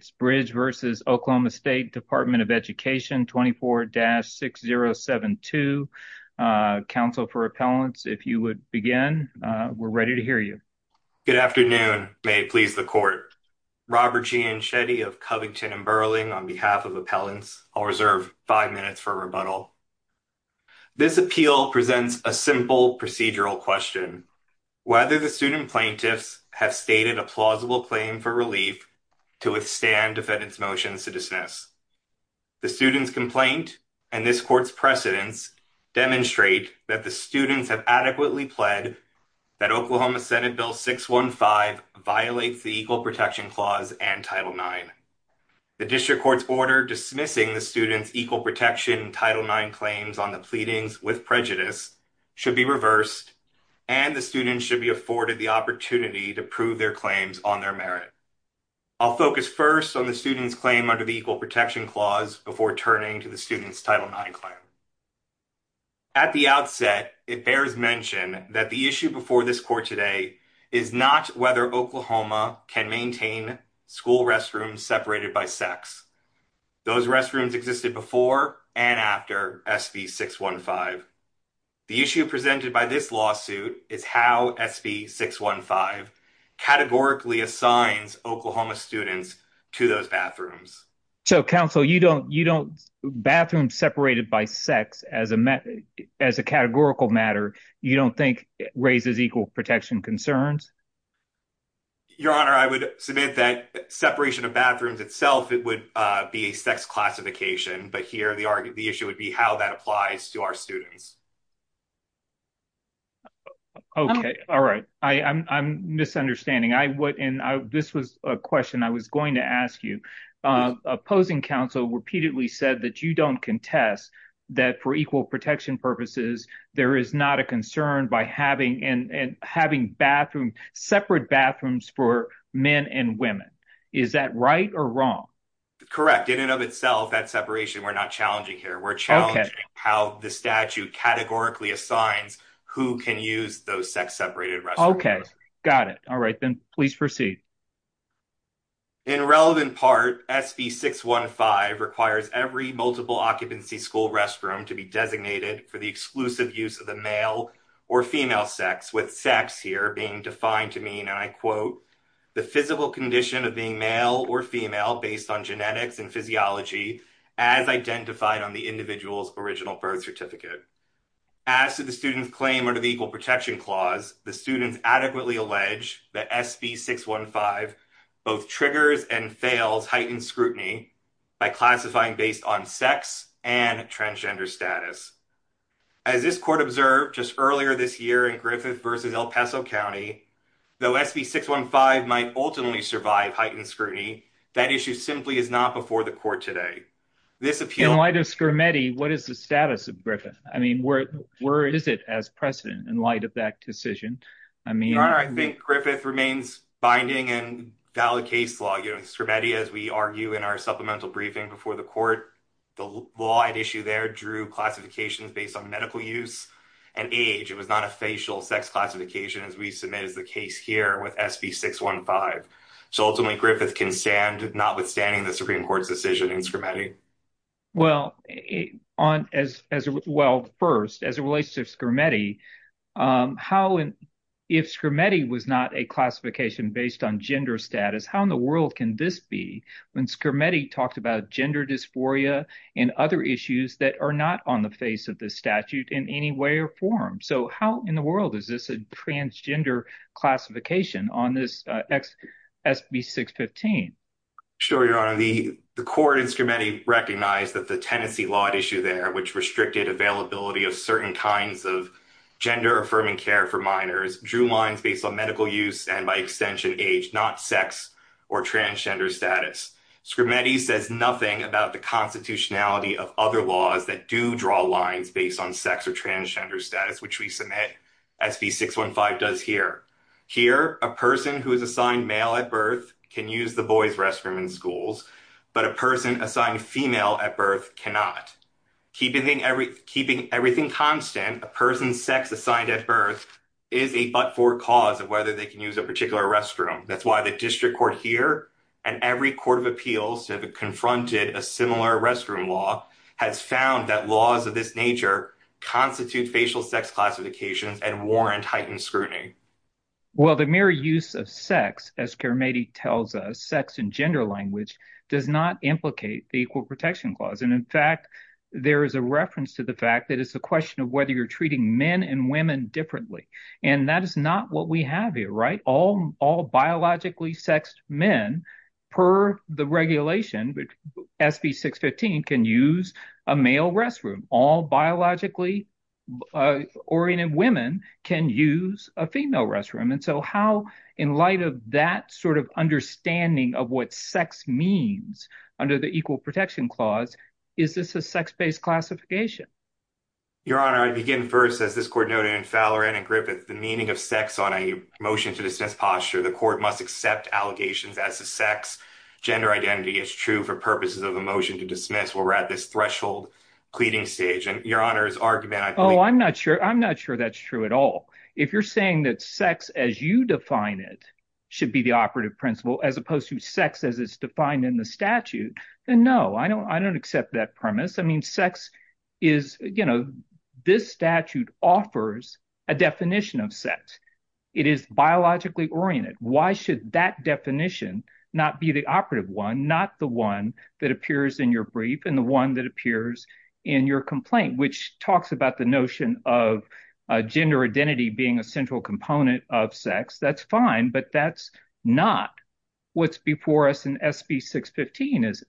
24-6072. Council for Appellants, if you would begin. We're ready to hear you. Good afternoon. May it please the court. Robert Gianchetti of Covington & Burling on behalf of Appellants. I'll reserve five minutes for rebuttal. This appeal presents a simple procedural question. Whether the student plaintiffs have stated a plausible claim for relief to withstand defendant's motion to dismiss. The student's complaint and this court's precedence demonstrate that the students have adequately pled that Oklahoma Senate Bill 615 violates the Equal Protection Clause and Title IX. The district court's order dismissing the student's Equal Protection Title IX claims on the pleadings with prejudice should be reversed. And the student should be afforded the opportunity to prove their claims on their merit. I'll focus first on the student's claim under the Equal Protection Clause before turning to the student's Title IX claim. At the outset, it bears mention that the issue before this court today is not whether Oklahoma can maintain school restrooms separated by sex. Those restrooms existed before and after SB 615. The issue presented by this lawsuit is how SB 615 categorically assigns Oklahoma students to those bathrooms. So, counsel, you don't you don't bathroom separated by sex as a method as a categorical matter. You don't think raises equal protection concerns? Your Honor, I would submit that separation of bathrooms itself, it would be sex classification. But here the argument the issue would be how that applies to our students. OK. All right. I'm misunderstanding. This was a question I was going to ask you. Opposing counsel repeatedly said that you don't contest that for equal protection purposes, there is not a concern by having and having bathroom separate bathrooms for men and women. Is that right or wrong? Correct. In and of itself, that separation, we're not challenging here. We're challenging how the statute categorically assigns who can use those sex separated restrooms. OK. Got it. All right. Then please proceed. In relevant part, SB 615 requires every multiple occupancy school restroom to be designated for the exclusive use of the male or female sex with sex here being defined to mean, and I quote, the physical condition of being male or female based on genetics and physiology as identified on the individual's original birth certificate. As to the student's claim under the equal protection clause, the students adequately allege that SB 615 both triggers and fails heightened scrutiny by classifying based on sex and transgender status. As this court observed just earlier this year in Griffith versus El Paso County, though SB 615 might ultimately survive heightened scrutiny, that issue simply is not before the court today. In light of Scrimeti, what is the status of Griffith? I mean, where is it as precedent in light of that decision? I think Griffith remains binding and valid case law. Scrimeti, as we argue in our supplemental briefing before the court, the law at issue there drew classifications based on medical use and age. It was not a facial sex classification as we submit as the case here with SB 615. So ultimately, Griffith can stand notwithstanding the Supreme Court's decision in Scrimeti. Well, first, as it relates to Scrimeti, if Scrimeti was not a classification based on gender status, how in the world can this be when Scrimeti talked about gender dysphoria and other issues that are not on the face of this statute in any way or form? How in the world is this a transgender classification on this SB 615? Sure, Your Honor. The court in Scrimeti recognized that the tenancy law at issue there, which restricted availability of certain kinds of gender-affirming care for minors, drew lines based on medical use and, by extension, age, not sex or transgender status. Scrimeti says nothing about the constitutionality of other laws that do draw lines based on sex or transgender status, which we submit SB 615 does here. Here, a person who is assigned male at birth can use the boys' restroom in schools, but a person assigned female at birth cannot. Keeping everything constant, a person's sex assigned at birth is a but-for cause of whether they can use a particular restroom. That's why the district court here and every court of appeals that have confronted a similar restroom law has found that laws of this nature constitute facial sex classifications and warrant heightened scrutiny. Well, the mere use of sex, as Scrimeti tells us, sex in gender language does not implicate the Equal Protection Clause. In fact, there is a reference to the fact that it's a question of whether you're treating men and women differently, and that is not what we have here, right? All biologically sexed men, per the regulation, SB 615, can use a male restroom. All biologically oriented women can use a female restroom. And so how, in light of that sort of understanding of what sex means under the Equal Protection Clause, is this a sex-based classification? Your Honor, I begin first. As this court noted in Falloran and Griffith, the meaning of sex on a motion to dismiss posture, the court must accept allegations as to sex. Gender identity is true for purposes of a motion to dismiss. We're at this threshold cleaning stage, and Your Honor's argument, I believe… Oh, I'm not sure that's true at all. If you're saying that sex as you define it should be the operative principle as opposed to sex as it's defined in the statute, then no, I don't accept that premise. I mean, sex is, you know, this statute offers a definition of sex. It is biologically oriented. Why should that definition not be the operative one, not the one that appears in your brief and the one that appears in your complaint, which talks about the notion of gender identity being a central component of sex. That's fine, but that's not what's before us in SB 615, is it?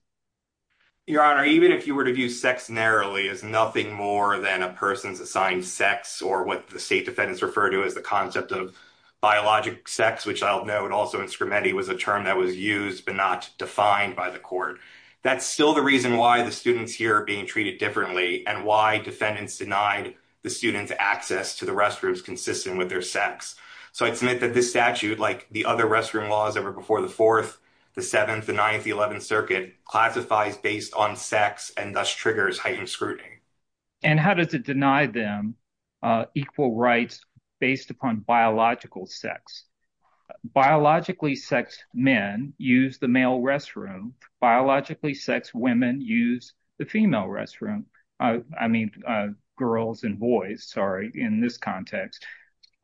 Your Honor, even if you were to view sex narrowly as nothing more than a person's assigned sex or what the state defendants refer to as the concept of biologic sex, which I'll note also in Scrimetti was a term that was used but not defined by the court. That's still the reason why the students here are being treated differently and why defendants denied the students access to the restrooms consistent with their sex. So I'd submit that this statute, like the other restroom laws ever before the 4th, the 7th, the 9th, the 11th Circuit classifies based on sex and thus triggers heightened scrutiny. And how does it deny them equal rights based upon biological sex? Biologically sex men use the male restroom. Biologically sex women use the female restroom. I mean, girls and boys, sorry, in this context.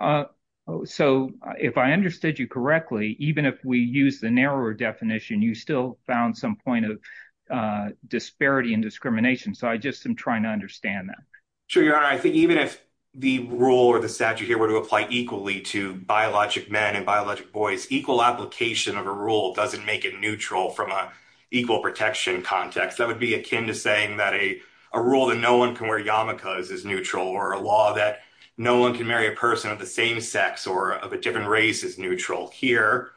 So if I understood you correctly, even if we use the narrower definition, you still found some point of disparity and discrimination. So I just am trying to understand that. Sure. Your Honor, I think even if the rule or the statute here were to apply equally to biologic men and biologic boys, equal application of a rule doesn't make it neutral from an equal protection context. That would be akin to saying that a rule that no one can wear yarmulkes is neutral or a law that no one can marry a person of the same sex or of a different race is neutral. Here,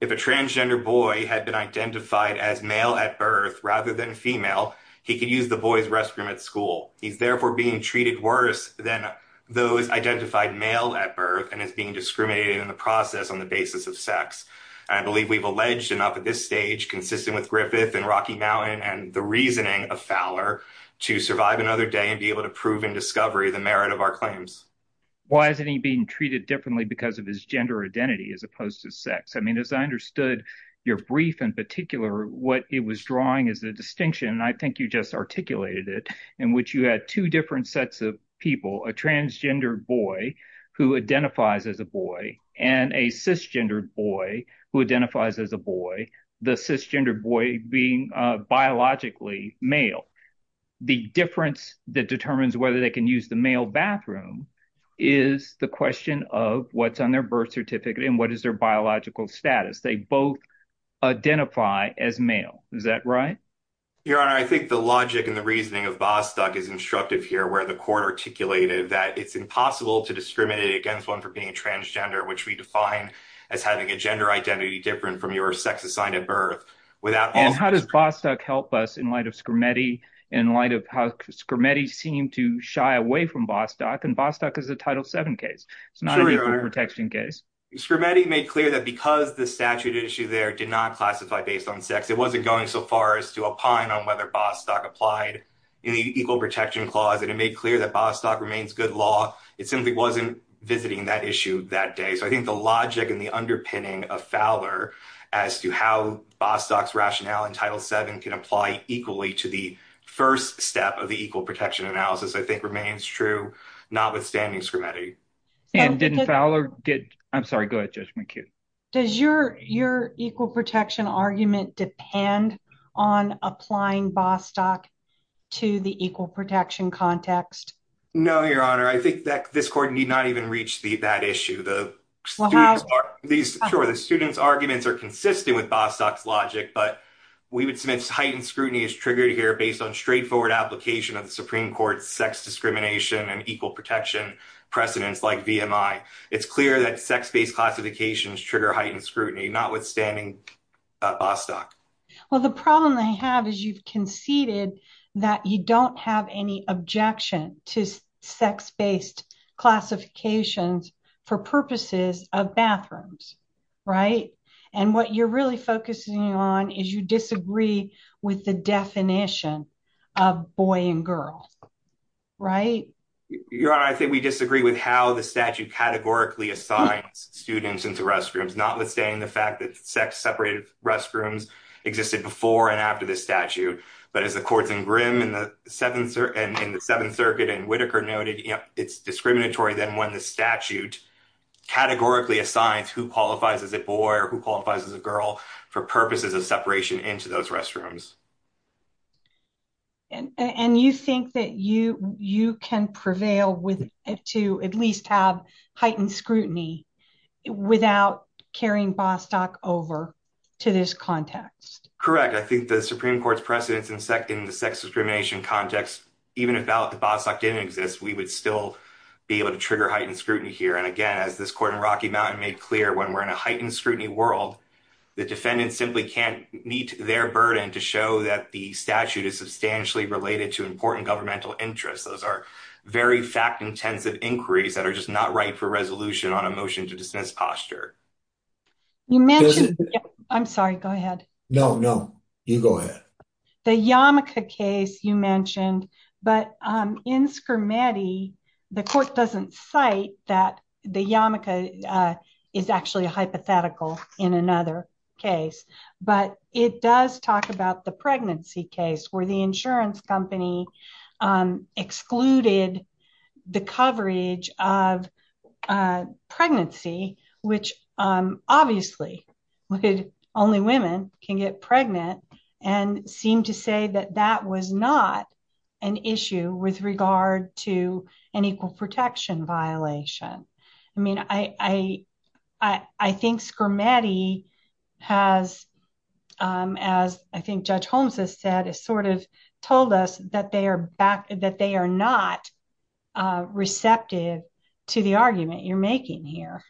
if a transgender boy had been identified as male at birth rather than female, he could use the boy's restroom at school. He's therefore being treated worse than those identified male at birth and is being discriminated in the process on the basis of sex. I believe we've alleged enough at this stage, consistent with Griffith and Rocky Mountain and the reasoning of Fowler, to survive another day and be able to prove in discovery the merit of our claims. Why isn't he being treated differently because of his gender identity as opposed to sex? I mean, as I understood your brief in particular, what it was drawing is the distinction, and I think you just articulated it, in which you had two different sets of people. A transgender boy who identifies as a boy and a cisgender boy who identifies as a boy, the cisgender boy being biologically male. The difference that determines whether they can use the male bathroom is the question of what's on their birth certificate and what is their biological status. They both identify as male. Is that right? Your Honor, I think the logic and the reasoning of Bostock is instructive here, where the court articulated that it's impossible to discriminate against one for being transgender, which we define as having a gender identity different from your sex assigned at birth. And how does Bostock help us in light of Scrimetti, in light of how Scrimetti seemed to shy away from Bostock, and Bostock is a Title VII case. It's not an equal protection case. Scrimetti made clear that because the statute issue there did not classify based on sex, it wasn't going so far as to opine on whether Bostock applied in the equal protection clause, and it made clear that Bostock remains good law. It simply wasn't visiting that issue that day. So I think the logic and the underpinning of Fowler as to how Bostock's rationale in Title VII can apply equally to the first step of the equal protection analysis, I think remains true, notwithstanding Scrimetti. And didn't Fowler get, I'm sorry, go ahead, Judge McHugh. Does your equal protection argument depend on applying Bostock to the equal protection context? No, Your Honor. I think that this court need not even reach that issue. Sure, the student's arguments are consistent with Bostock's logic, but we would submit heightened scrutiny is triggered here based on straightforward application of the Supreme Court's sex discrimination and equal protection precedents like VMI. It's clear that sex-based classifications trigger heightened scrutiny, notwithstanding Bostock. Well, the problem they have is you've conceded that you don't have any objection to sex-based classifications for purposes of bathrooms, right? And what you're really focusing on is you disagree with the definition of boy and girl, right? Your Honor, I think we disagree with how the statute categorically assigns students into restrooms, notwithstanding the fact that sex-separated restrooms existed before and after the statute. But as the courts in Grimm and the Seventh Circuit and Whitaker noted, it's discriminatory than when the statute categorically assigns who qualifies as a boy or who qualifies as a girl for purposes of separation into those restrooms. And you think that you can prevail to at least have heightened scrutiny without carrying Bostock over to this context? Correct. I think the Supreme Court's precedents in the sex discrimination context, even if the ballot for Bostock didn't exist, we would still be able to trigger heightened scrutiny here. And again, as this court in Rocky Mountain made clear, when we're in a heightened scrutiny world, the defendant simply can't meet their burden to show that the statute is substantially related to important governmental interests. Those are very fact-intensive inquiries that are just not right for resolution on a motion to dismiss posture. You mentioned, I'm sorry, go ahead. No, no, you go ahead. The Yamika case you mentioned, but in Scrimetti, the court doesn't cite that the Yamika is actually a hypothetical in another case, but it does talk about the pregnancy case where the insurance company excluded the coverage of pregnancy, which obviously only women can get pregnant, and seemed to say that that was not an issue with regard to an equal protection violation. I mean, I think Scrimetti has, as I think Judge Holmes has said, has sort of told us that they are not receptive to the argument you're making here.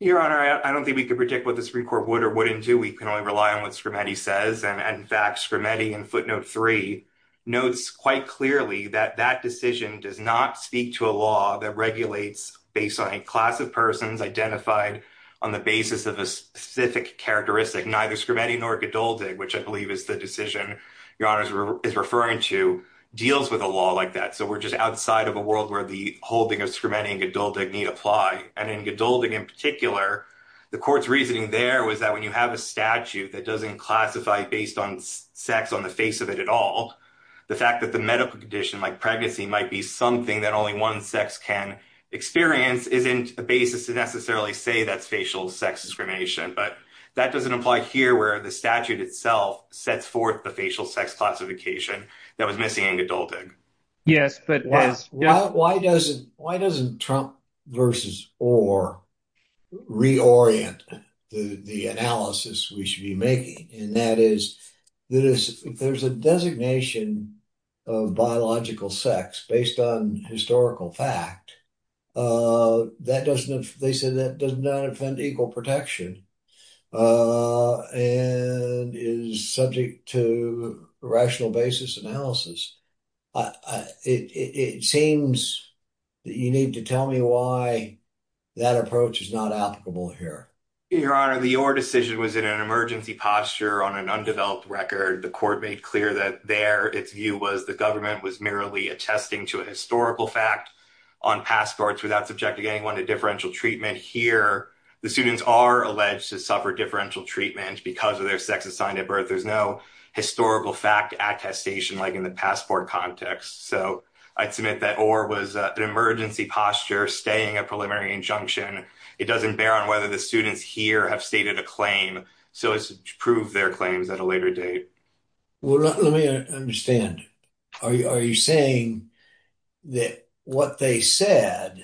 Your Honor, I don't think we can predict what the Supreme Court would or wouldn't do. We can only rely on what Scrimetti says. And in fact, Scrimetti in footnote 3 notes quite clearly that that decision does not speak to a law that regulates based on a class of persons identified on the basis of a specific characteristic. Neither Scrimetti nor Geduldig, which I believe is the decision Your Honor is referring to, deals with a law like that. So we're just outside of a world where the holding of Scrimetti and Geduldig need apply. And in Geduldig in particular, the court's reasoning there was that when you have a statute that doesn't classify based on sex on the face of it at all, the fact that the medical condition like pregnancy might be something that only one sex can experience isn't a basis to necessarily say that's facial sex discrimination. But that doesn't apply here where the statute itself sets forth the facial sex classification that was missing in Geduldig. Yes, but why doesn't Trump versus Orr reorient the analysis we should be making? And that is that if there's a designation of biological sex based on historical fact, that doesn't, they said that does not offend equal protection and is subject to rational basis analysis. It seems that you need to tell me why that approach is not applicable here. Your Honor, the Orr decision was in an emergency posture on an undeveloped record. The court made clear that there its view was the government was merely attesting to a historical fact on passports without subjecting anyone to differential treatment. Here, the students are alleged to suffer differential treatment because of their sex assigned at birth. There's no historical fact attestation like in the passport context. So I'd submit that Orr was an emergency posture staying a preliminary injunction. It doesn't bear on whether the students here have stated a claim. So it's proved their claims at a later date. Well, let me understand. Are you saying that what they said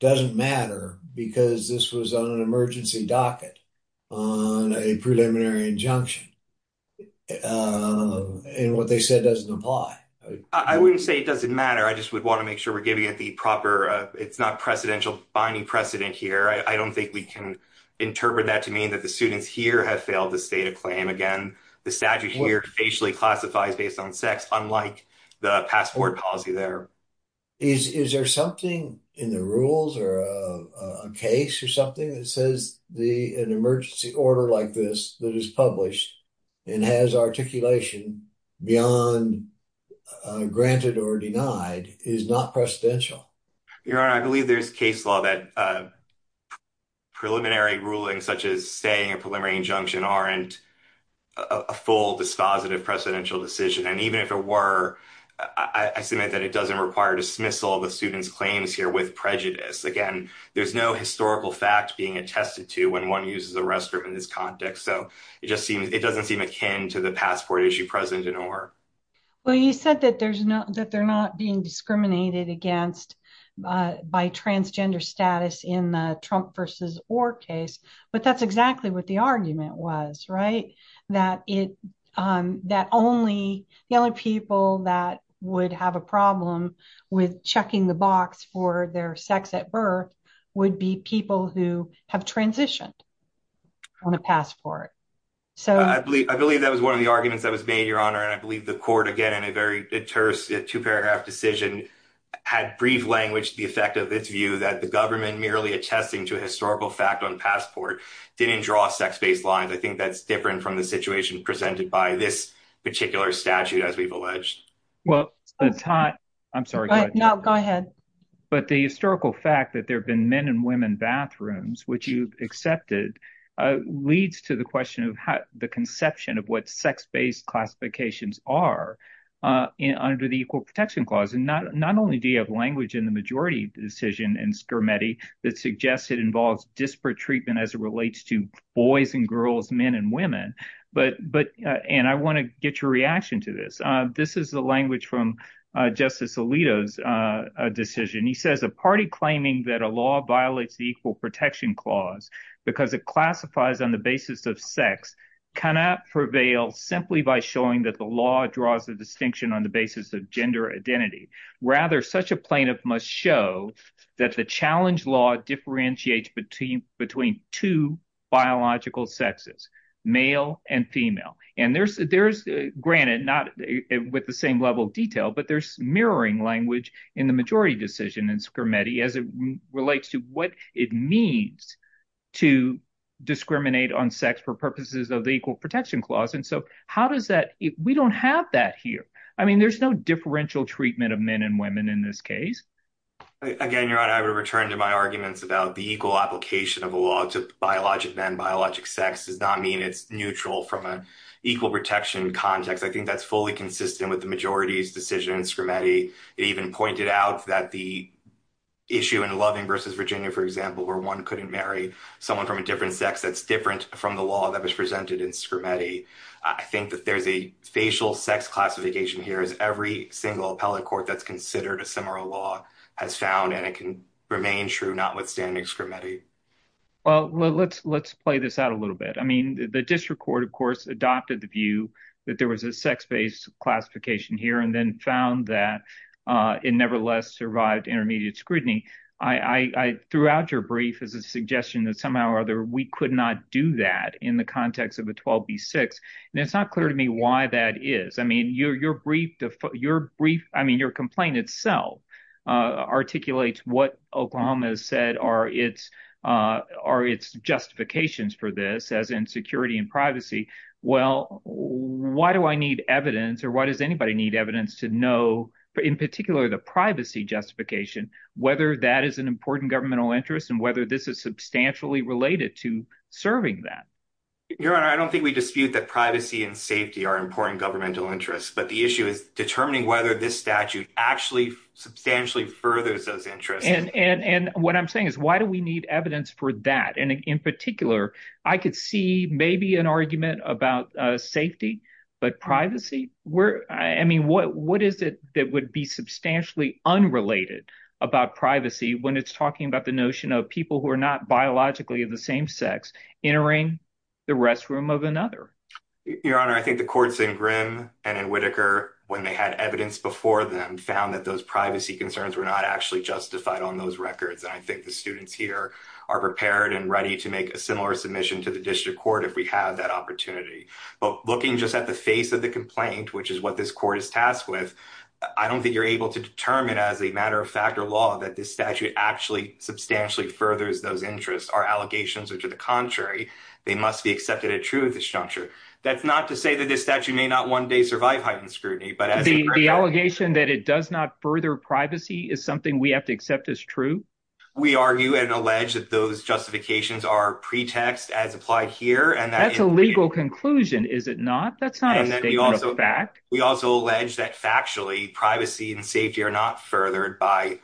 doesn't matter because this was on an emergency docket on a preliminary injunction and what they said doesn't apply? I wouldn't say it doesn't matter. I just would want to make sure we're giving it the proper. It's not presidential binding precedent here. I don't think we can interpret that to mean that the students here have failed to state a claim. Again, the statute here basically classifies based on sex, unlike the passport policy there. Is there something in the rules or a case or something that says an emergency order like this that is published and has articulation beyond granted or denied is not presidential? Your Honor, I believe there's case law that preliminary ruling such as saying a preliminary injunction aren't a full dispositive presidential decision. And even if it were, I submit that it doesn't require dismissal of the students' claims here with prejudice. Again, there's no historical fact being attested to when one uses a restroom in this context. So it just seems it doesn't seem akin to the passport issue present in Orr. Well, you said that they're not being discriminated against by transgender status in the Trump versus Orr case. But that's exactly what the argument was, right? That only people that would have a problem with checking the box for their sex at birth would be people who have transitioned on a passport. I believe that was one of the arguments that was made, Your Honor. And I believe the court, again, in a very two-paragraph decision, had brief language to the effect of its view that the government merely attesting to a historical fact on passport didn't draw sex-based lines. I think that's different from the situation presented by this particular statute, as we've alleged. I'm sorry. No, go ahead. But the historical fact that there have been men and women bathrooms, which you've accepted, leads to the question of the conception of what sex-based classifications are under the Equal Protection Clause. And not only do you have language in the majority decision in Scarametti that suggests it involves disparate treatment as it relates to boys and girls, men and women. And I want to get your reaction to this. This is a language from Justice Alito's decision. He says, a party claiming that a law violates the Equal Protection Clause because it classifies on the basis of sex cannot prevail simply by showing that the law draws a distinction on the basis of gender identity. Rather, such a plaintiff must show that the challenge law differentiates between two biological sexes, male and female. And there's, granted, not with the same level of detail, but there's mirroring language in the majority decision in Scarametti as it relates to what it means to discriminate on sex for purposes of the Equal Protection Clause. And so how does that – we don't have that here. I mean, there's no differential treatment of men and women in this case. Again, Your Honor, I would return to my arguments about the equal application of a law to biologic men. Biologic sex does not mean it's neutral from an equal protection context. I think that's fully consistent with the majority's decision in Scarametti. It even pointed out that the issue in Loving v. Virginia, for example, where one couldn't marry someone from a different sex that's different from the law that was presented in Scarametti. I think that there's a facial sex classification here, as every single appellate court that's considered a similar law has found, and it can remain true, notwithstanding Scarametti. Well, let's play this out a little bit. I mean the district court, of course, adopted the view that there was a sex-based classification here and then found that it nevertheless survived intermediate scrutiny. Throughout your brief is a suggestion that somehow or other we could not do that in the context of a 12b-6, and it's not clear to me why that is. I mean your brief – I mean your complaint itself articulates what Oklahoma has said are its justifications for this, as in security and privacy. Well, why do I need evidence, or why does anybody need evidence to know, in particular the privacy justification, whether that is an important governmental interest and whether this is substantially related to serving that? Your Honor, I don't think we dispute that privacy and safety are important governmental interests, but the issue is determining whether this statute actually substantially furthers those interests. And what I'm saying is why do we need evidence for that? And in particular, I could see maybe an argument about safety, but privacy? I mean what is it that would be substantially unrelated about privacy when it's talking about the notion of people who are not biologically of the same sex entering the restroom of another? Your Honor, I think the courts in Grimm and in Whitaker, when they had evidence before them, found that those privacy concerns were not actually justified on those records. And I think the students here are prepared and ready to make a similar submission to the district court if we have that opportunity. But looking just at the face of the complaint, which is what this court is tasked with, I don't think you're able to determine as a matter of fact or law that this statute actually substantially furthers those interests. Our allegations are to the contrary. They must be accepted as true at this juncture. That's not to say that this statute may not one day survive heightened scrutiny. The allegation that it does not further privacy is something we have to accept as true? We argue and allege that those justifications are pretext as applied here. That's a legal conclusion, is it not? That's not a statement of fact. We also allege that factually privacy and safety are not furthered by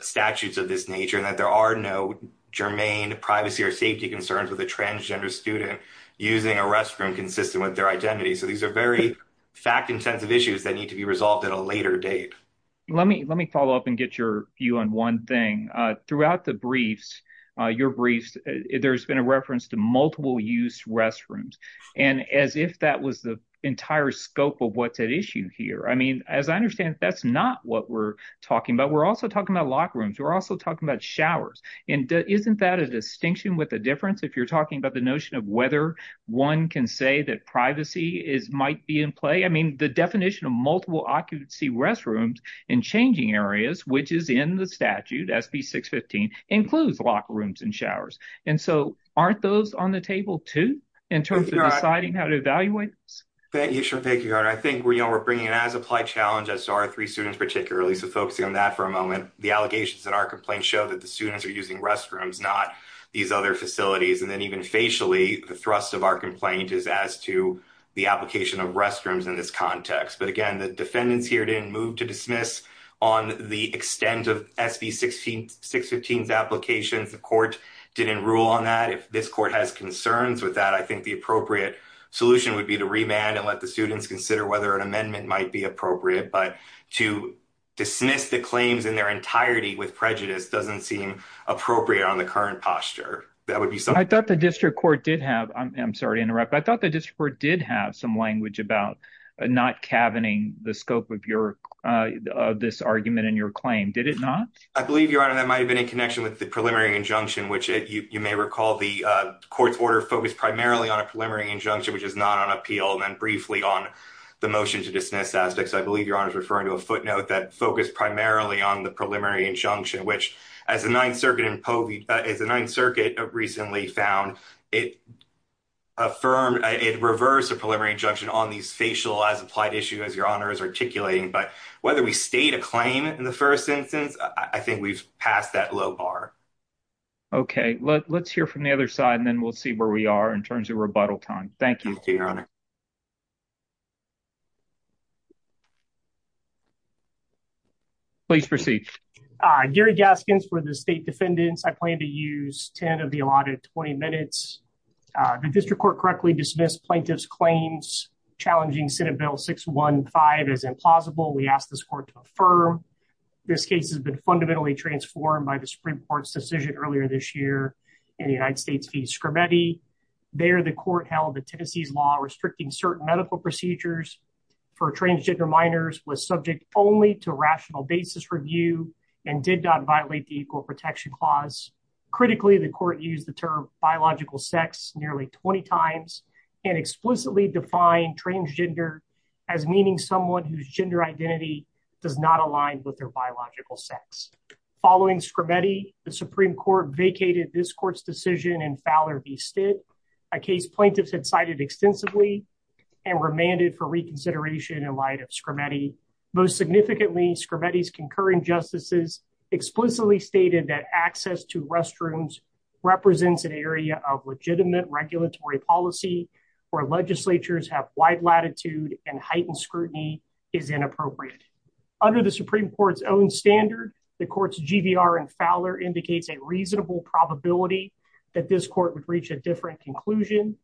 statutes of this nature and that there are no germane privacy or safety concerns with a transgender student using a restroom consistent with their identity. So these are very fact-intensive issues that need to be resolved at a later date. Let me follow up and get your view on one thing. Throughout the briefs, your briefs, there's been a reference to multiple-use restrooms. And as if that was the entire scope of what's at issue here. I mean, as I understand, that's not what we're talking about. We're also talking about locker rooms. We're also talking about showers. And isn't that a distinction with a difference if you're talking about the notion of whether one can say that privacy might be in play? I mean, the definition of multiple occupancy restrooms in changing areas, which is in the statute, SB 615, includes locker rooms and showers. And so aren't those on the table, too, in terms of deciding how to evaluate this? Thank you. I think we're bringing it as applied challenges to our three students particularly. So focusing on that for a moment, the allegations in our complaint show that the students are using restrooms, not these other facilities. And then even facially, the thrust of our complaint is as to the application of restrooms in this context. But again, the defendants here didn't move to dismiss on the extent of SB 615's applications. The court didn't rule on that. If this court has concerns with that, I think the appropriate solution would be to remand and let the students consider whether an amendment might be appropriate. But to dismiss the claims in their entirety with prejudice doesn't seem appropriate on the current posture. I thought the district court did have some language about not calvening the scope of this argument in your claim. Did it not? I believe, Your Honor, that might have been in connection with the preliminary injunction, which you may recall the court's order focused primarily on a preliminary injunction, which is not on appeal, and then briefly on the motion to dismiss aspects. I believe Your Honor is referring to a footnote that focused primarily on the preliminary injunction, which, as the Ninth Circuit recently found, it reversed the preliminary injunction on these facial as applied issues as Your Honor is articulating. But whether we state a claim in the first instance, I think we've passed that low bar. Okay. Let's hear from the other side, and then we'll see where we are in terms of rebuttal time. Thank you. Thank you, Your Honor. Please proceed. Gary Gaskins for the State Defendants. I plan to use 10 of the allotted 20 minutes. The district court correctly dismissed plaintiff's claims challenging Senate Bill 615 as implausible. We ask this court to affirm. This case has been fundamentally transformed by the Supreme Court's decision earlier this year in the United States v. Scrimeti. There, the court held that Tennessee's law restricting certain medical procedures for transgender minors was subject only to rational basis review and did not violate the Equal Protection Clause. Critically, the court used the term biological sex nearly 20 times and explicitly defined transgender as meaning someone whose gender identity does not align with their biological sex. Following Scrimeti, the Supreme Court vacated this court's decision in Fowler v. Stitt, a case plaintiffs had cited extensively and remanded for reconsideration in light of Scrimeti. Most significantly, Scrimeti's concurring justices explicitly stated that access to restrooms represents an area of legitimate regulatory policy where legislatures have wide latitude and heightened scrutiny is inappropriate. Under the Supreme Court's own standard, the court's GVR in Fowler indicates a reasonable probability that this court would reach a different conclusion.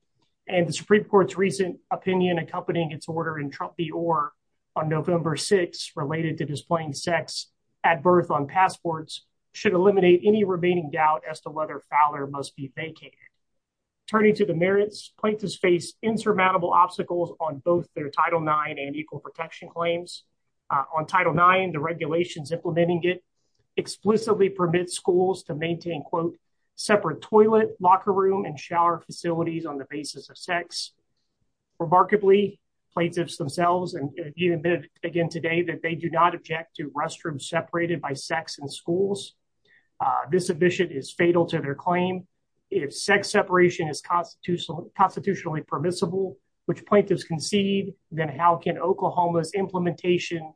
And the Supreme Court's recent opinion accompanying its order in Trump v. Orr on November 6 related to displaying sex at birth on passports should eliminate any remaining doubt as to whether Fowler must be vacated. Turning to the merits, plaintiffs face insurmountable obstacles on both their Title IX and Equal Protection claims. On Title IX, the regulations implementing it explicitly permit schools to maintain, quote, separate toilet, locker room, and shower facilities on the basis of sex. Remarkably, plaintiffs themselves have admitted again today that they do not object to restrooms separated by sex in schools. This admission is fatal to their claim. If sex separation is constitutionally permissible, which plaintiffs concede, then how can Oklahoma's implementation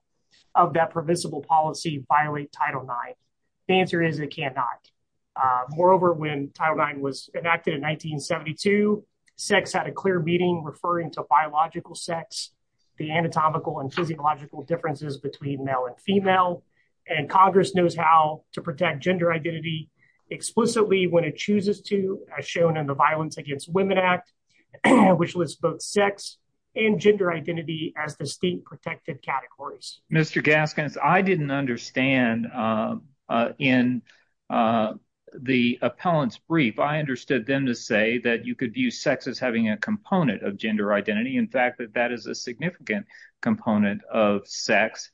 of that permissible policy violate Title IX? The answer is it cannot. Moreover, when Title IX was enacted in 1972, sex had a clear meaning referring to biological sex, the anatomical and physiological differences between male and female. And Congress knows how to protect gender identity explicitly when it chooses to, as shown in the Violence Against Women Act, which lists both sex and gender identity as distinct protected categories. Mr. Gaskins, I didn't understand in the appellant's brief. I understood them to say that you could view sex as having a component of gender identity, in fact, that that is a significant component of sex.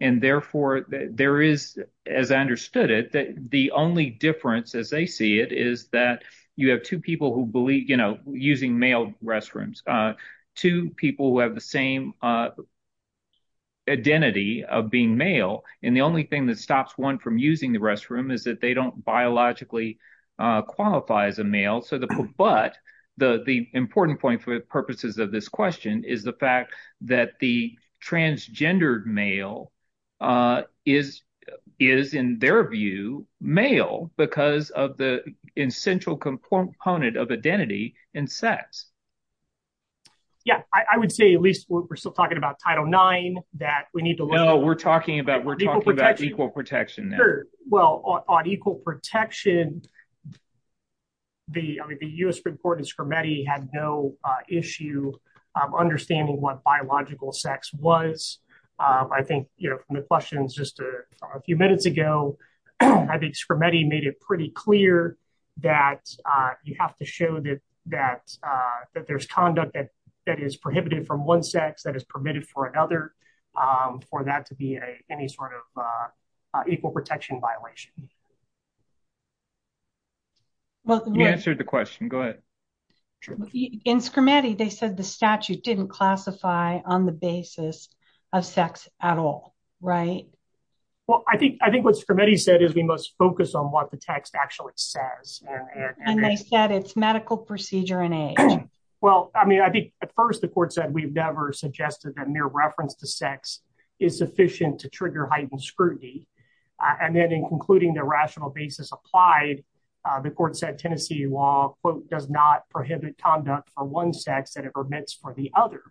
And therefore, there is, as I understood it, that the only difference as they see it is that you have two people who believe, you know, using male restrooms, two people who have the same identity of being male. And the only thing that stops one from using the restroom is that they don't biologically qualify as a male. But the important point for the purposes of this question is the fact that the transgendered male is, in their view, male because of the essential component of identity in sex. Yeah, I would say at least we're still talking about Title IX. No, we're talking about equal protection. Well, on equal protection, the U.S. Supreme Court in Scrimeti had no issue understanding what biological sex was. I think, you know, from the questions just a few minutes ago, I think Scrimeti made it pretty clear that you have to show that there's conduct that is prohibited from one sex that is permitted for another, for that to be any sort of equal protection violation. You answered the question. Go ahead. In Scrimeti, they said the statute didn't classify on the basis of sex at all, right? Well, I think what Scrimeti said is we must focus on what the text actually says. And they said it's medical procedure and age. Well, I mean, I think at first the court said we've never suggested that mere reference to sex is sufficient to trigger heightened scrutiny. And then in concluding the rational basis applied, the court said Tennessee law, quote, does not prohibit conduct for one sex that it permits for the other.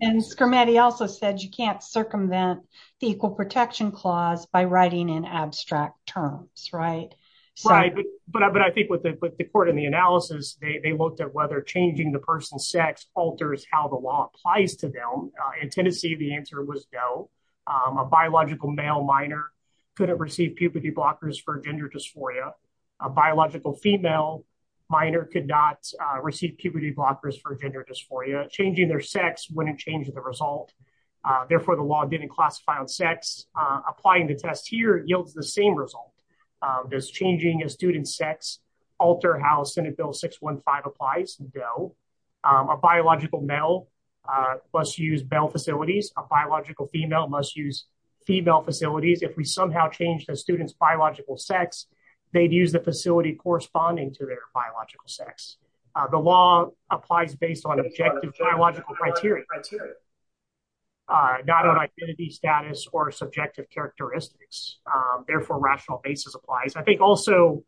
And Scrimeti also said you can't circumvent the equal protection clause by writing in abstract terms, right? Right. But I think with the court and the analysis, they looked at whether changing the person's sex alters how the law applies to them. In Tennessee, the answer was no. A biological male minor couldn't receive puberty blockers for gender dysphoria. A biological female minor could not receive puberty blockers for gender dysphoria. Changing their sex wouldn't change the result. Therefore, the law didn't classify on sex. Applying the test here yields the same result. Does changing a student's sex alter how Senate Bill 615 applies? No. A biological male must use male facilities. A biological female must use female facilities. If we somehow change the student's biological sex, they'd use the facility corresponding to their biological sex. The law applies based on objective biological criteria, not on identity status or subjective characteristics. Therefore, rational basis applies. I think also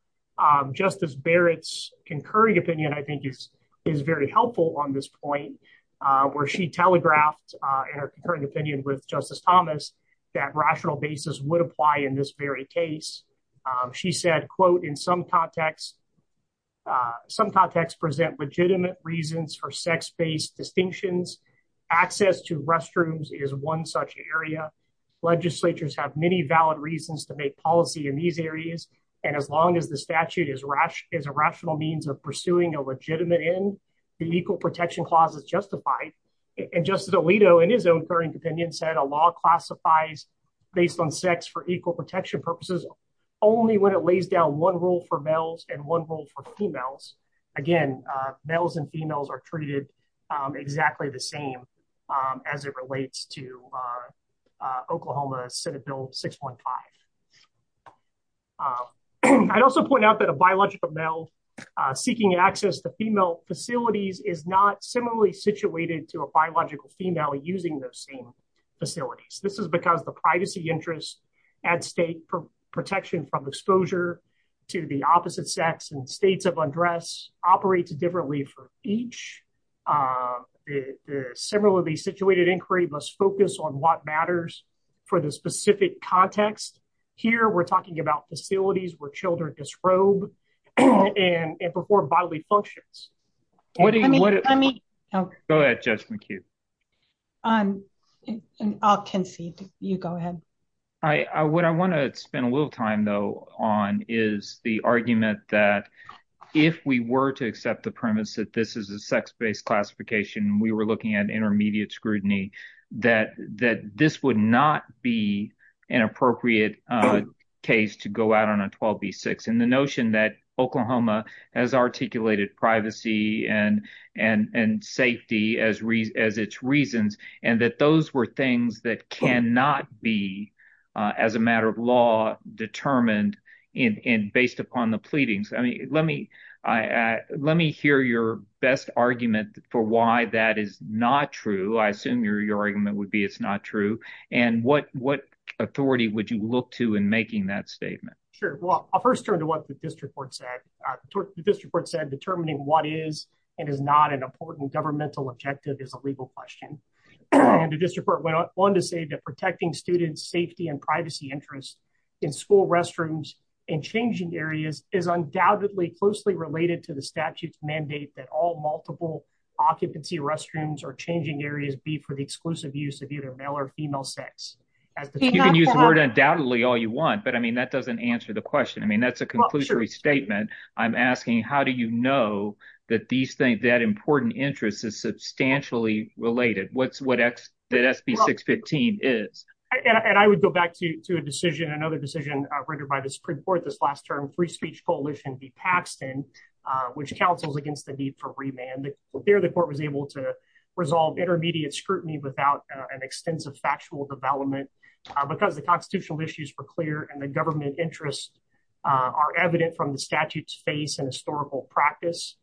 Justice Barrett's concurring opinion, I think, is very helpful on this point, where she telegraphed in her concurring opinion with Justice Thomas that rational basis would apply in this very case. She said, quote, in some contexts present legitimate reasons for sex-based distinctions. Access to restrooms is one such area. Legislatures have many valid reasons to make policy in these areas. And as long as the statute is a rational means of pursuing a legitimate end, the Equal Protection Clause is justified. And Justice Alito, in his own concurring opinion, said a law classifies based on sex for equal protection purposes only when it lays down one rule for males and one rule for females. Again, males and females are treated exactly the same as it relates to Oklahoma's Senate Bill 615. I'd also point out that a biological male seeking access to female facilities is not similarly situated to a biological female using those same facilities. This is because the privacy interests at stake for protection from exposure to the opposite sex and states of undress operates differently for each. Similarly situated inquiry must focus on what matters for the specific context. Here, we're talking about facilities where children disrobe and perform bodily functions. Go ahead, Judge McHugh. I'll concede. You go ahead. What I want to spend a little time, though, on is the argument that if we were to accept the premise that this is a sex-based classification, we were looking at intermediate scrutiny, that this would not be an appropriate case to go out on a 12b-6. The notion that Oklahoma has articulated privacy and safety as its reasons, and that those were things that cannot be, as a matter of law, determined based upon the pleadings. Let me hear your best argument for why that is not true. I assume your argument would be it's not true. What authority would you look to in making that statement? I'll first turn to what the district court said. The district court said determining what is and is not an important governmental objective is a legal question. The district court went on to say that protecting students' safety and privacy interests in school restrooms and changing areas is undoubtedly closely related to the statute's mandate that all multiple occupancy restrooms or changing areas be for the exclusive use of either male or female sex. You can use the word undoubtedly all you want, but that doesn't answer the question. That's a conclusory statement. I'm asking how do you know that important interest is substantially related? What SB 615 is? I would go back to another decision rendered by the Supreme Court this last term, free speech coalition v. Paxton, which counsels against the need for remand. There the court was able to resolve intermediate scrutiny without an extensive factual development because the constitutional issues were clear and the government interests are evident from the statute's face and historical practice.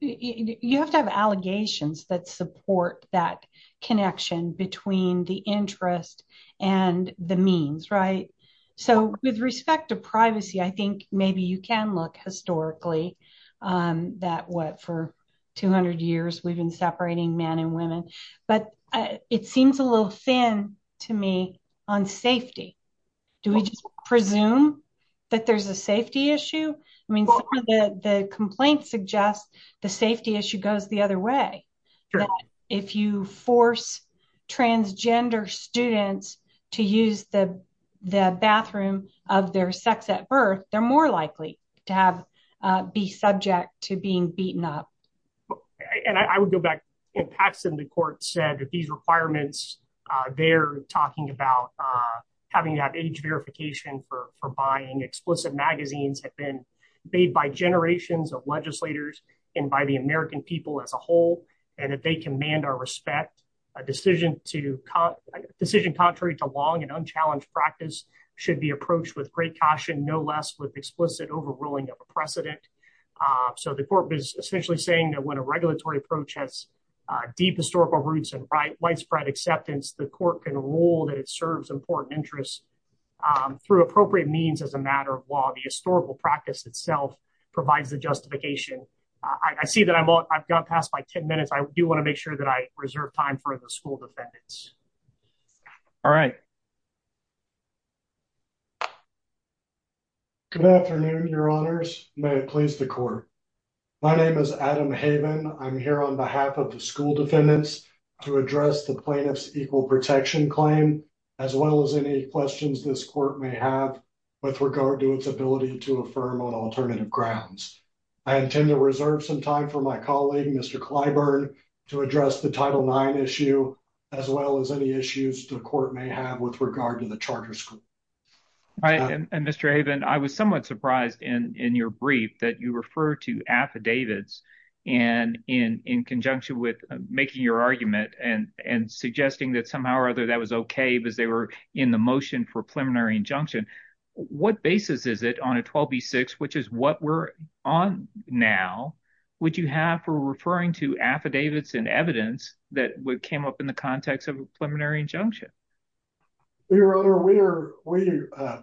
You have to have allegations that support that connection between the interest and the means, right? So with respect to privacy, I think maybe you can look historically that what for 200 years we've been separating men and women, but it seems a little thin to me on safety. Do we just presume that there's a safety issue? I mean, the complaint suggests the safety issue goes the other way. If you force transgender students to use the bathroom of their sex at birth, they're more likely to be subject to being beaten up. And I would go back and Paxton, the court said that these requirements, they're talking about having that age verification for buying explicit magazines have been made by generations of legislators and by the American people as a whole. And if they command our respect, a decision to decision contrary to long and unchallenged practice should be approached with great caution, no less with explicit overruling of precedent. So the court was essentially saying that when a regulatory approach has deep historical roots and right widespread acceptance, the court can rule that it serves important interests through appropriate means as a matter of law. And I think the legal practice itself provides the justification. I see that I've got past my 10 minutes. I do want to make sure that I reserve time for the school defendants. All right. Good afternoon, your honors. May it please the court. My name is Adam Haven. I'm here on behalf of the school defendants to address the plaintiff's equal protection claim, as well as any questions this court may have with regard to its ability to affirm on alternative grounds. I intend to reserve some time for my colleague, Mr. Clyburn, to address the title nine issue, as well as any issues the court may have with regard to the charter school. And Mr. Haven, I was somewhat surprised in your brief that you refer to affidavits and in conjunction with making your argument and suggesting that somehow or other that was OK, because they were in the motion for preliminary injunction. What basis is it on a 12B6, which is what we're on now, would you have for referring to affidavits and evidence that came up in the context of a preliminary injunction? Your honor, we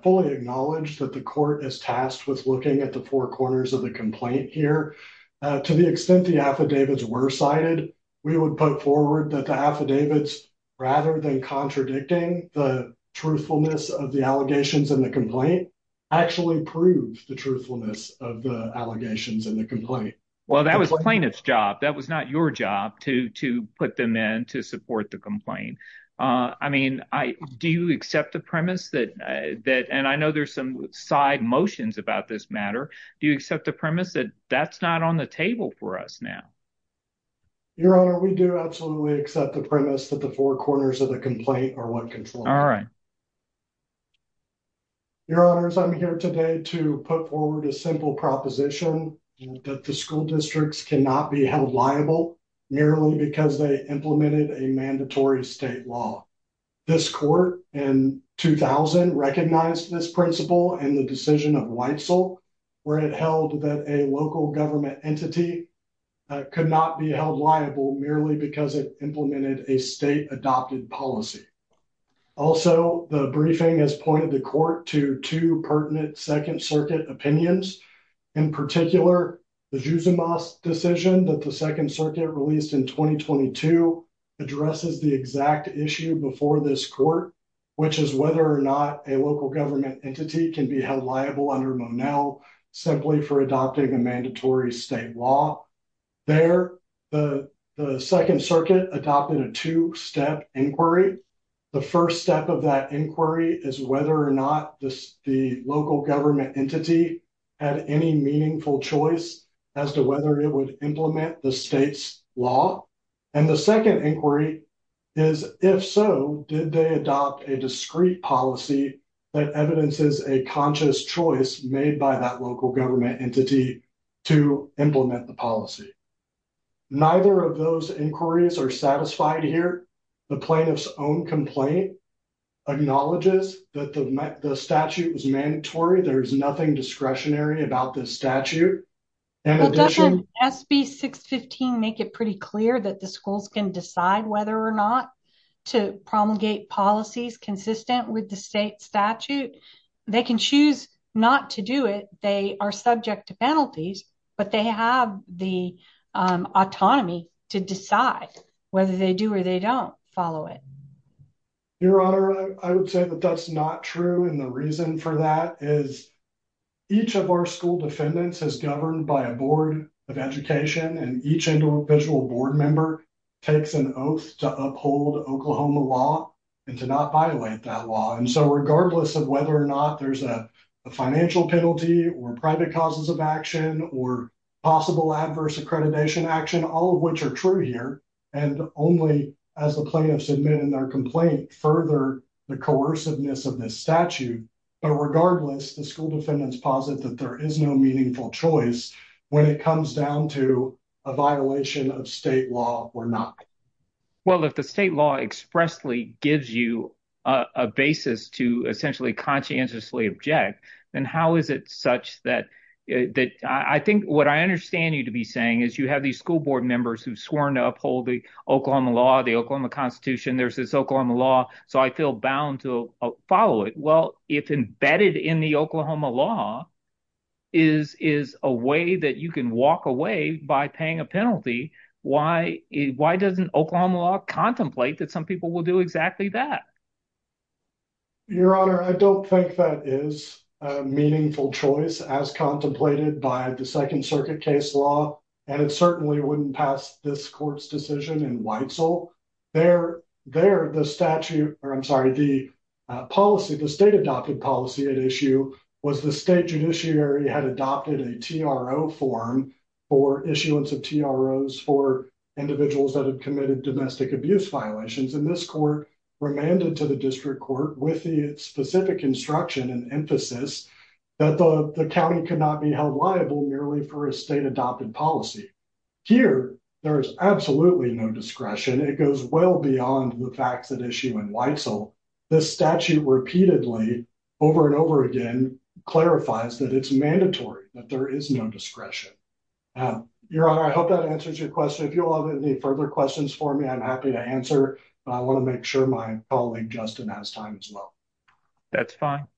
fully acknowledge that the court is tasked with looking at the four corners of the complaint here and to the extent the affidavits were cited, we would put forward that the affidavits, rather than contradicting the truthfulness of the allegations in the complaint, actually proved the truthfulness of the allegations in the complaint. Well, that was plaintiff's job. That was not your job to put them in to support the complaint. I mean, do you accept the premise that, and I know there's some side motions about this matter, do you accept the premise that that's not on the table for us now? Your honor, we do absolutely accept the premise that the four corners of the complaint are what control. Your honors, I'm here today to put forward a simple proposition that the school districts cannot be held liable merely because they implemented a mandatory state law. This court in 2000 recognized this principle and the decision of Weitzel where it held that a local government entity could not be held liable merely because it implemented a state adopted policy. Also, the briefing has pointed the court to two pertinent Second Circuit opinions. In particular, the Jusimas decision that the Second Circuit released in 2022 addresses the exact issue before this court, which is whether or not a local government entity can be held liable under Monell simply for adopting a mandatory state law. There, the Second Circuit adopted a two-step inquiry. The first step of that inquiry is whether or not the local government entity had any meaningful choice as to whether it would implement the state's law. And the second inquiry is if so, did they adopt a discrete policy that evidences a conscious choice made by that local government entity to implement the policy. Neither of those inquiries are satisfied here. The plaintiff's own complaint acknowledges that the statute was mandatory. There is nothing discretionary about this statute. Doesn't SB 615 make it pretty clear that the schools can decide whether or not to promulgate policies consistent with the state statute? They can choose not to do it. They are subject to penalties, but they have the autonomy to decide whether they do or they don't follow it. Your Honor, I would say that that's not true. And the reason for that is each of our school defendants is governed by a board of education and each individual board member takes an oath to uphold Oklahoma law and to not violate that law. And so regardless of whether or not there's a financial penalty or private causes of action or possible adverse accreditation action, all of which are true here, and only as the plaintiffs admit in their complaint, further the coerciveness of this statute. But regardless, the school defendants posit that there is no meaningful choice when it comes down to a violation of state law or not. Well, if the state law expressly gives you a basis to essentially conscientiously object, then how is it such that I think what I understand you to be saying is you have these school board members who've sworn to uphold the Oklahoma law, the Oklahoma Constitution, there's this Oklahoma law, so I feel bound to follow it. Well, if embedded in the Oklahoma law is a way that you can walk away by paying a penalty, why doesn't Oklahoma law contemplate that some people will do exactly that? Your Honor, I don't think that is a meaningful choice as contemplated by the Second Circuit case law, and it certainly wouldn't pass this court's decision in Weitzel. There, the statute, or I'm sorry, the policy, the state-adopted policy at issue was the state judiciary had adopted a TRO form for issuance of TROs for individuals that have committed domestic abuse violations, and this court remanded to the district court with the specific instruction and emphasis that the county could not be held liable merely for a state-adopted policy. Here, there is absolutely no discretion. It goes well beyond the facts at issue in Weitzel. This statute repeatedly, over and over again, clarifies that it's mandatory, that there is no discretion. Your Honor, I hope that answers your question. If you'll have any further questions for me, I'm happy to answer, but I want to make sure my colleague Justin has time as well. That's fine. Thank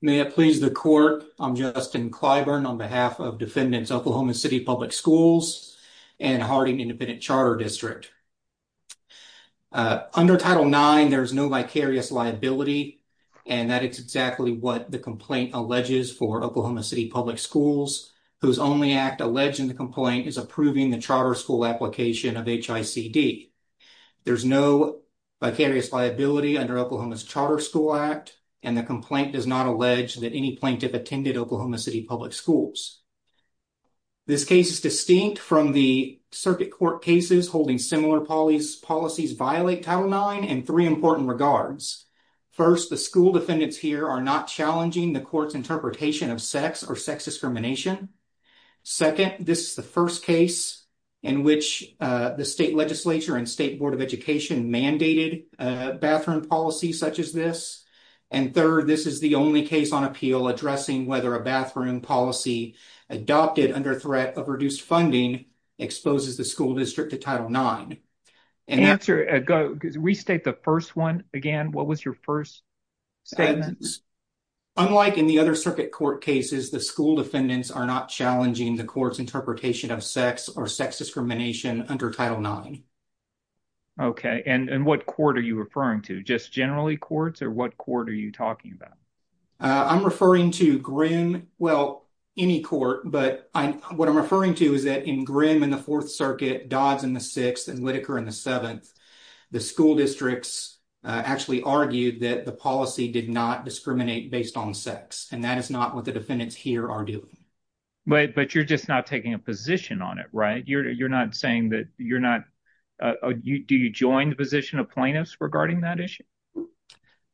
you. May it please the court, I'm Justin Clyburn, on behalf of Defendants Oklahoma City Public Schools and Harding Independent Charter District. Under Title IX, there is no vicarious liability, and that is exactly what the complaint alleges for Oklahoma City Public Schools, whose only act alleged in the complaint is approving the charter school application of HICD. There's no vicarious liability under Oklahoma's Charter School Act, and the complaint does not allege that any plaintiff attended Oklahoma City Public Schools. This case is distinct from the circuit court cases holding similar policies violate Title IX in three important regards. First, the school defendants here are not challenging the court's interpretation of sex or sex discrimination. Second, this is the first case in which the state legislature and state board of education mandated bathroom policy such as this. And third, this is the only case on appeal addressing whether a bathroom policy adopted under threat of reduced funding exposes the school district to Title IX. Answer, restate the first one again. What was your first statement? Unlike in the other circuit court cases, the school defendants are not challenging the court's interpretation of sex or sex discrimination under Title IX. Okay, and what court are you referring to? Just generally courts, or what court are you talking about? I'm referring to Grimm, well, any court, but what I'm referring to is that in Grimm in the Fourth Circuit, Dodds in the Sixth, and Whitaker in the Seventh, the school districts actually argued that the policy did not discriminate based on sex, and that is not what the defendants here are doing. But you're just not taking a position on it, right? You're not saying that you're not, do you join the position of plaintiffs regarding that issue?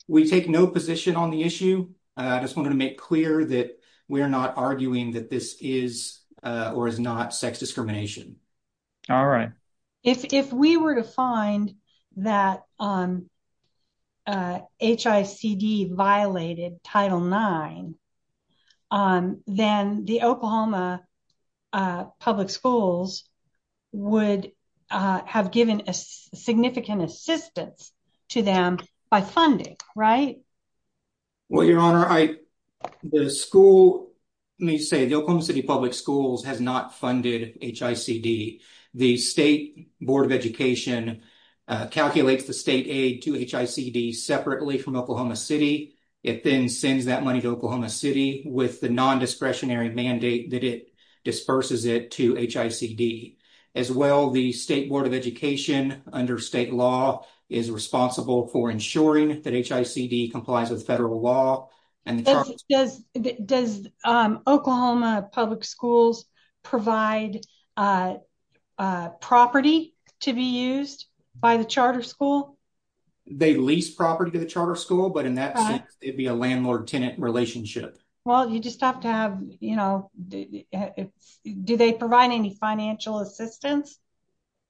We take no position on the issue. I just wanted to make clear that we are not arguing that this is or is not sex discrimination. All right. If we were to find that HICD violated Title IX, then the Oklahoma Public Schools would have given significant assistance to them by funding, right? Well, Your Honor, the school, let me say, the Oklahoma City Public Schools has not funded HICD. The State Board of Education calculates the state aid to HICD separately from Oklahoma City. It then sends that money to Oklahoma City with the nondiscretionary mandate that it disperses it to HICD. As well, the State Board of Education, under state law, is responsible for ensuring that HICD complies with federal law. Does Oklahoma Public Schools provide property to be used by the charter school? They lease property to the charter school, but it would be a landlord-tenant relationship. Well, you just have to have, you know, do they provide any financial assistance?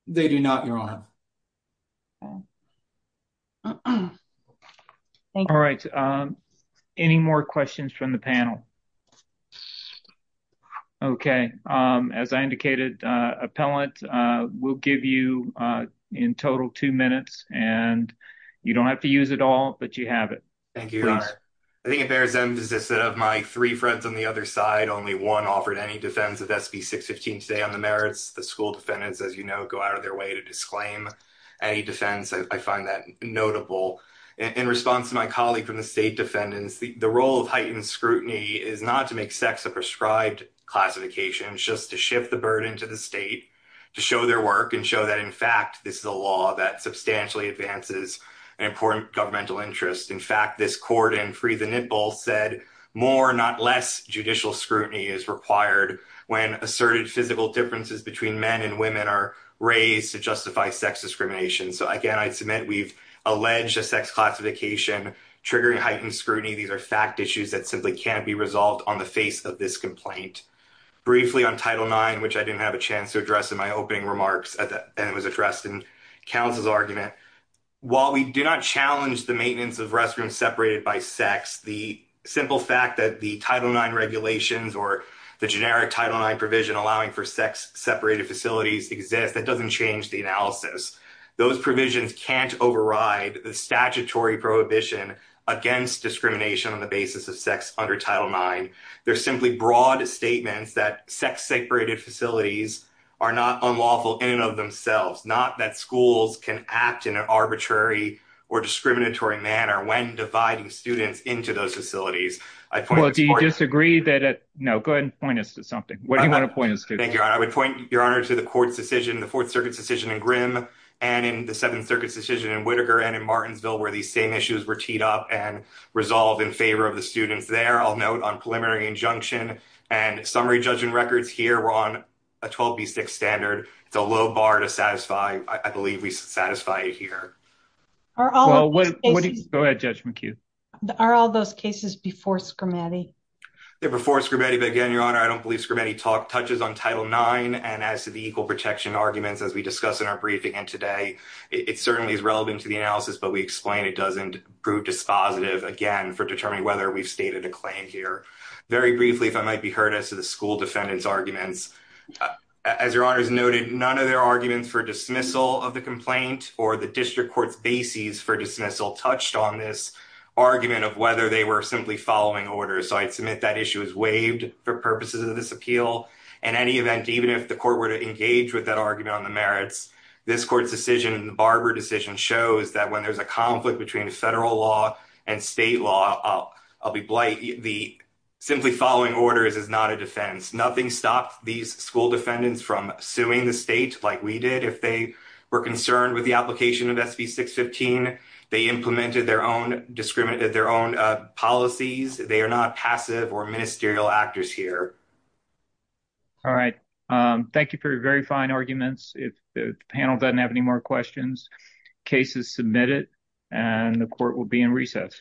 They do not, Your Honor. All right. Any more questions from the panel? Okay. As I indicated, Appellant, we'll give you in total two minutes, and you don't have to use it all, but you have it. I think it bears emphasis that of my three friends on the other side, only one offered any defense of SB 615 today on the merits. The school defendants, as you know, go out of their way to disclaim any defense. I find that notable. In response to my colleague from the state defendants, the role of heightened scrutiny is not to make sex a prescribed classification. It's just to shift the burden to the state to show their work and show that, in fact, this is a law that substantially advances an important governmental interest. In fact, this court in Free the Nipple said, more, not less, judicial scrutiny is required when asserted physical differences between men and women are raised to justify sex discrimination. So, again, I submit we've alleged a sex classification triggering heightened scrutiny. These are fact issues that simply can't be resolved on the face of this complaint. Briefly on Title IX, which I didn't have a chance to address in my opening remarks, and it was addressed in counsel's argument, while we do not challenge the maintenance of restrooms separated by sex, the simple fact that the Title IX regulations or the generic Title IX provision allowing for sex-separated facilities exist, that doesn't change the analysis. Those provisions can't override the statutory prohibition against discrimination on the basis of sex under Title IX. They're simply broad statements that sex-separated facilities are not unlawful in and of themselves, not that schools can act in an arbitrary or discriminatory manner when dividing students into those facilities. Well, do you disagree that... No, go ahead and point us to something. What do you want to point us to? Thank you, Your Honor. I would point, Your Honor, to the court's decision, the Fourth Circuit's decision in Grimm and in the Seventh Circuit's decision in Whittaker and in Martinsville, where these same issues were teed up and resolved in favor of the students there. I'll note on preliminary injunction that the court's decision in Whittaker... Go ahead, Judge McHugh. Are all those cases before Scrimmetti? They're before Scrimmetti, but again, Your Honor, I don't believe Scrimmetti touches on Title IX and as to the equal protection arguments as we discuss in our briefing today. It certainly is relevant to the analysis, but we explain it doesn't prove dispositive, again, for determining whether we've stated a claim here. Very briefly, if I might be heard, as to the school defendant's arguments, the district court's bases for dismissal touched on this argument of whether they were simply following orders. So I'd submit that issue is waived for purposes of this appeal. In any event, even if the court were to engage with that argument on the merits, this court's decision in the Barber decision shows that when there's a conflict between a federal law and state law, I'll be blight... Simply following orders is not a defense. Nothing stopped these school defendants from suing the state like we did if they were concerned that they violated SB 615. They implemented their own policies. They are not passive or ministerial actors here. All right. Thank you for your very fine arguments. If the panel doesn't have any more questions, case is submitted, and the court will be in recess.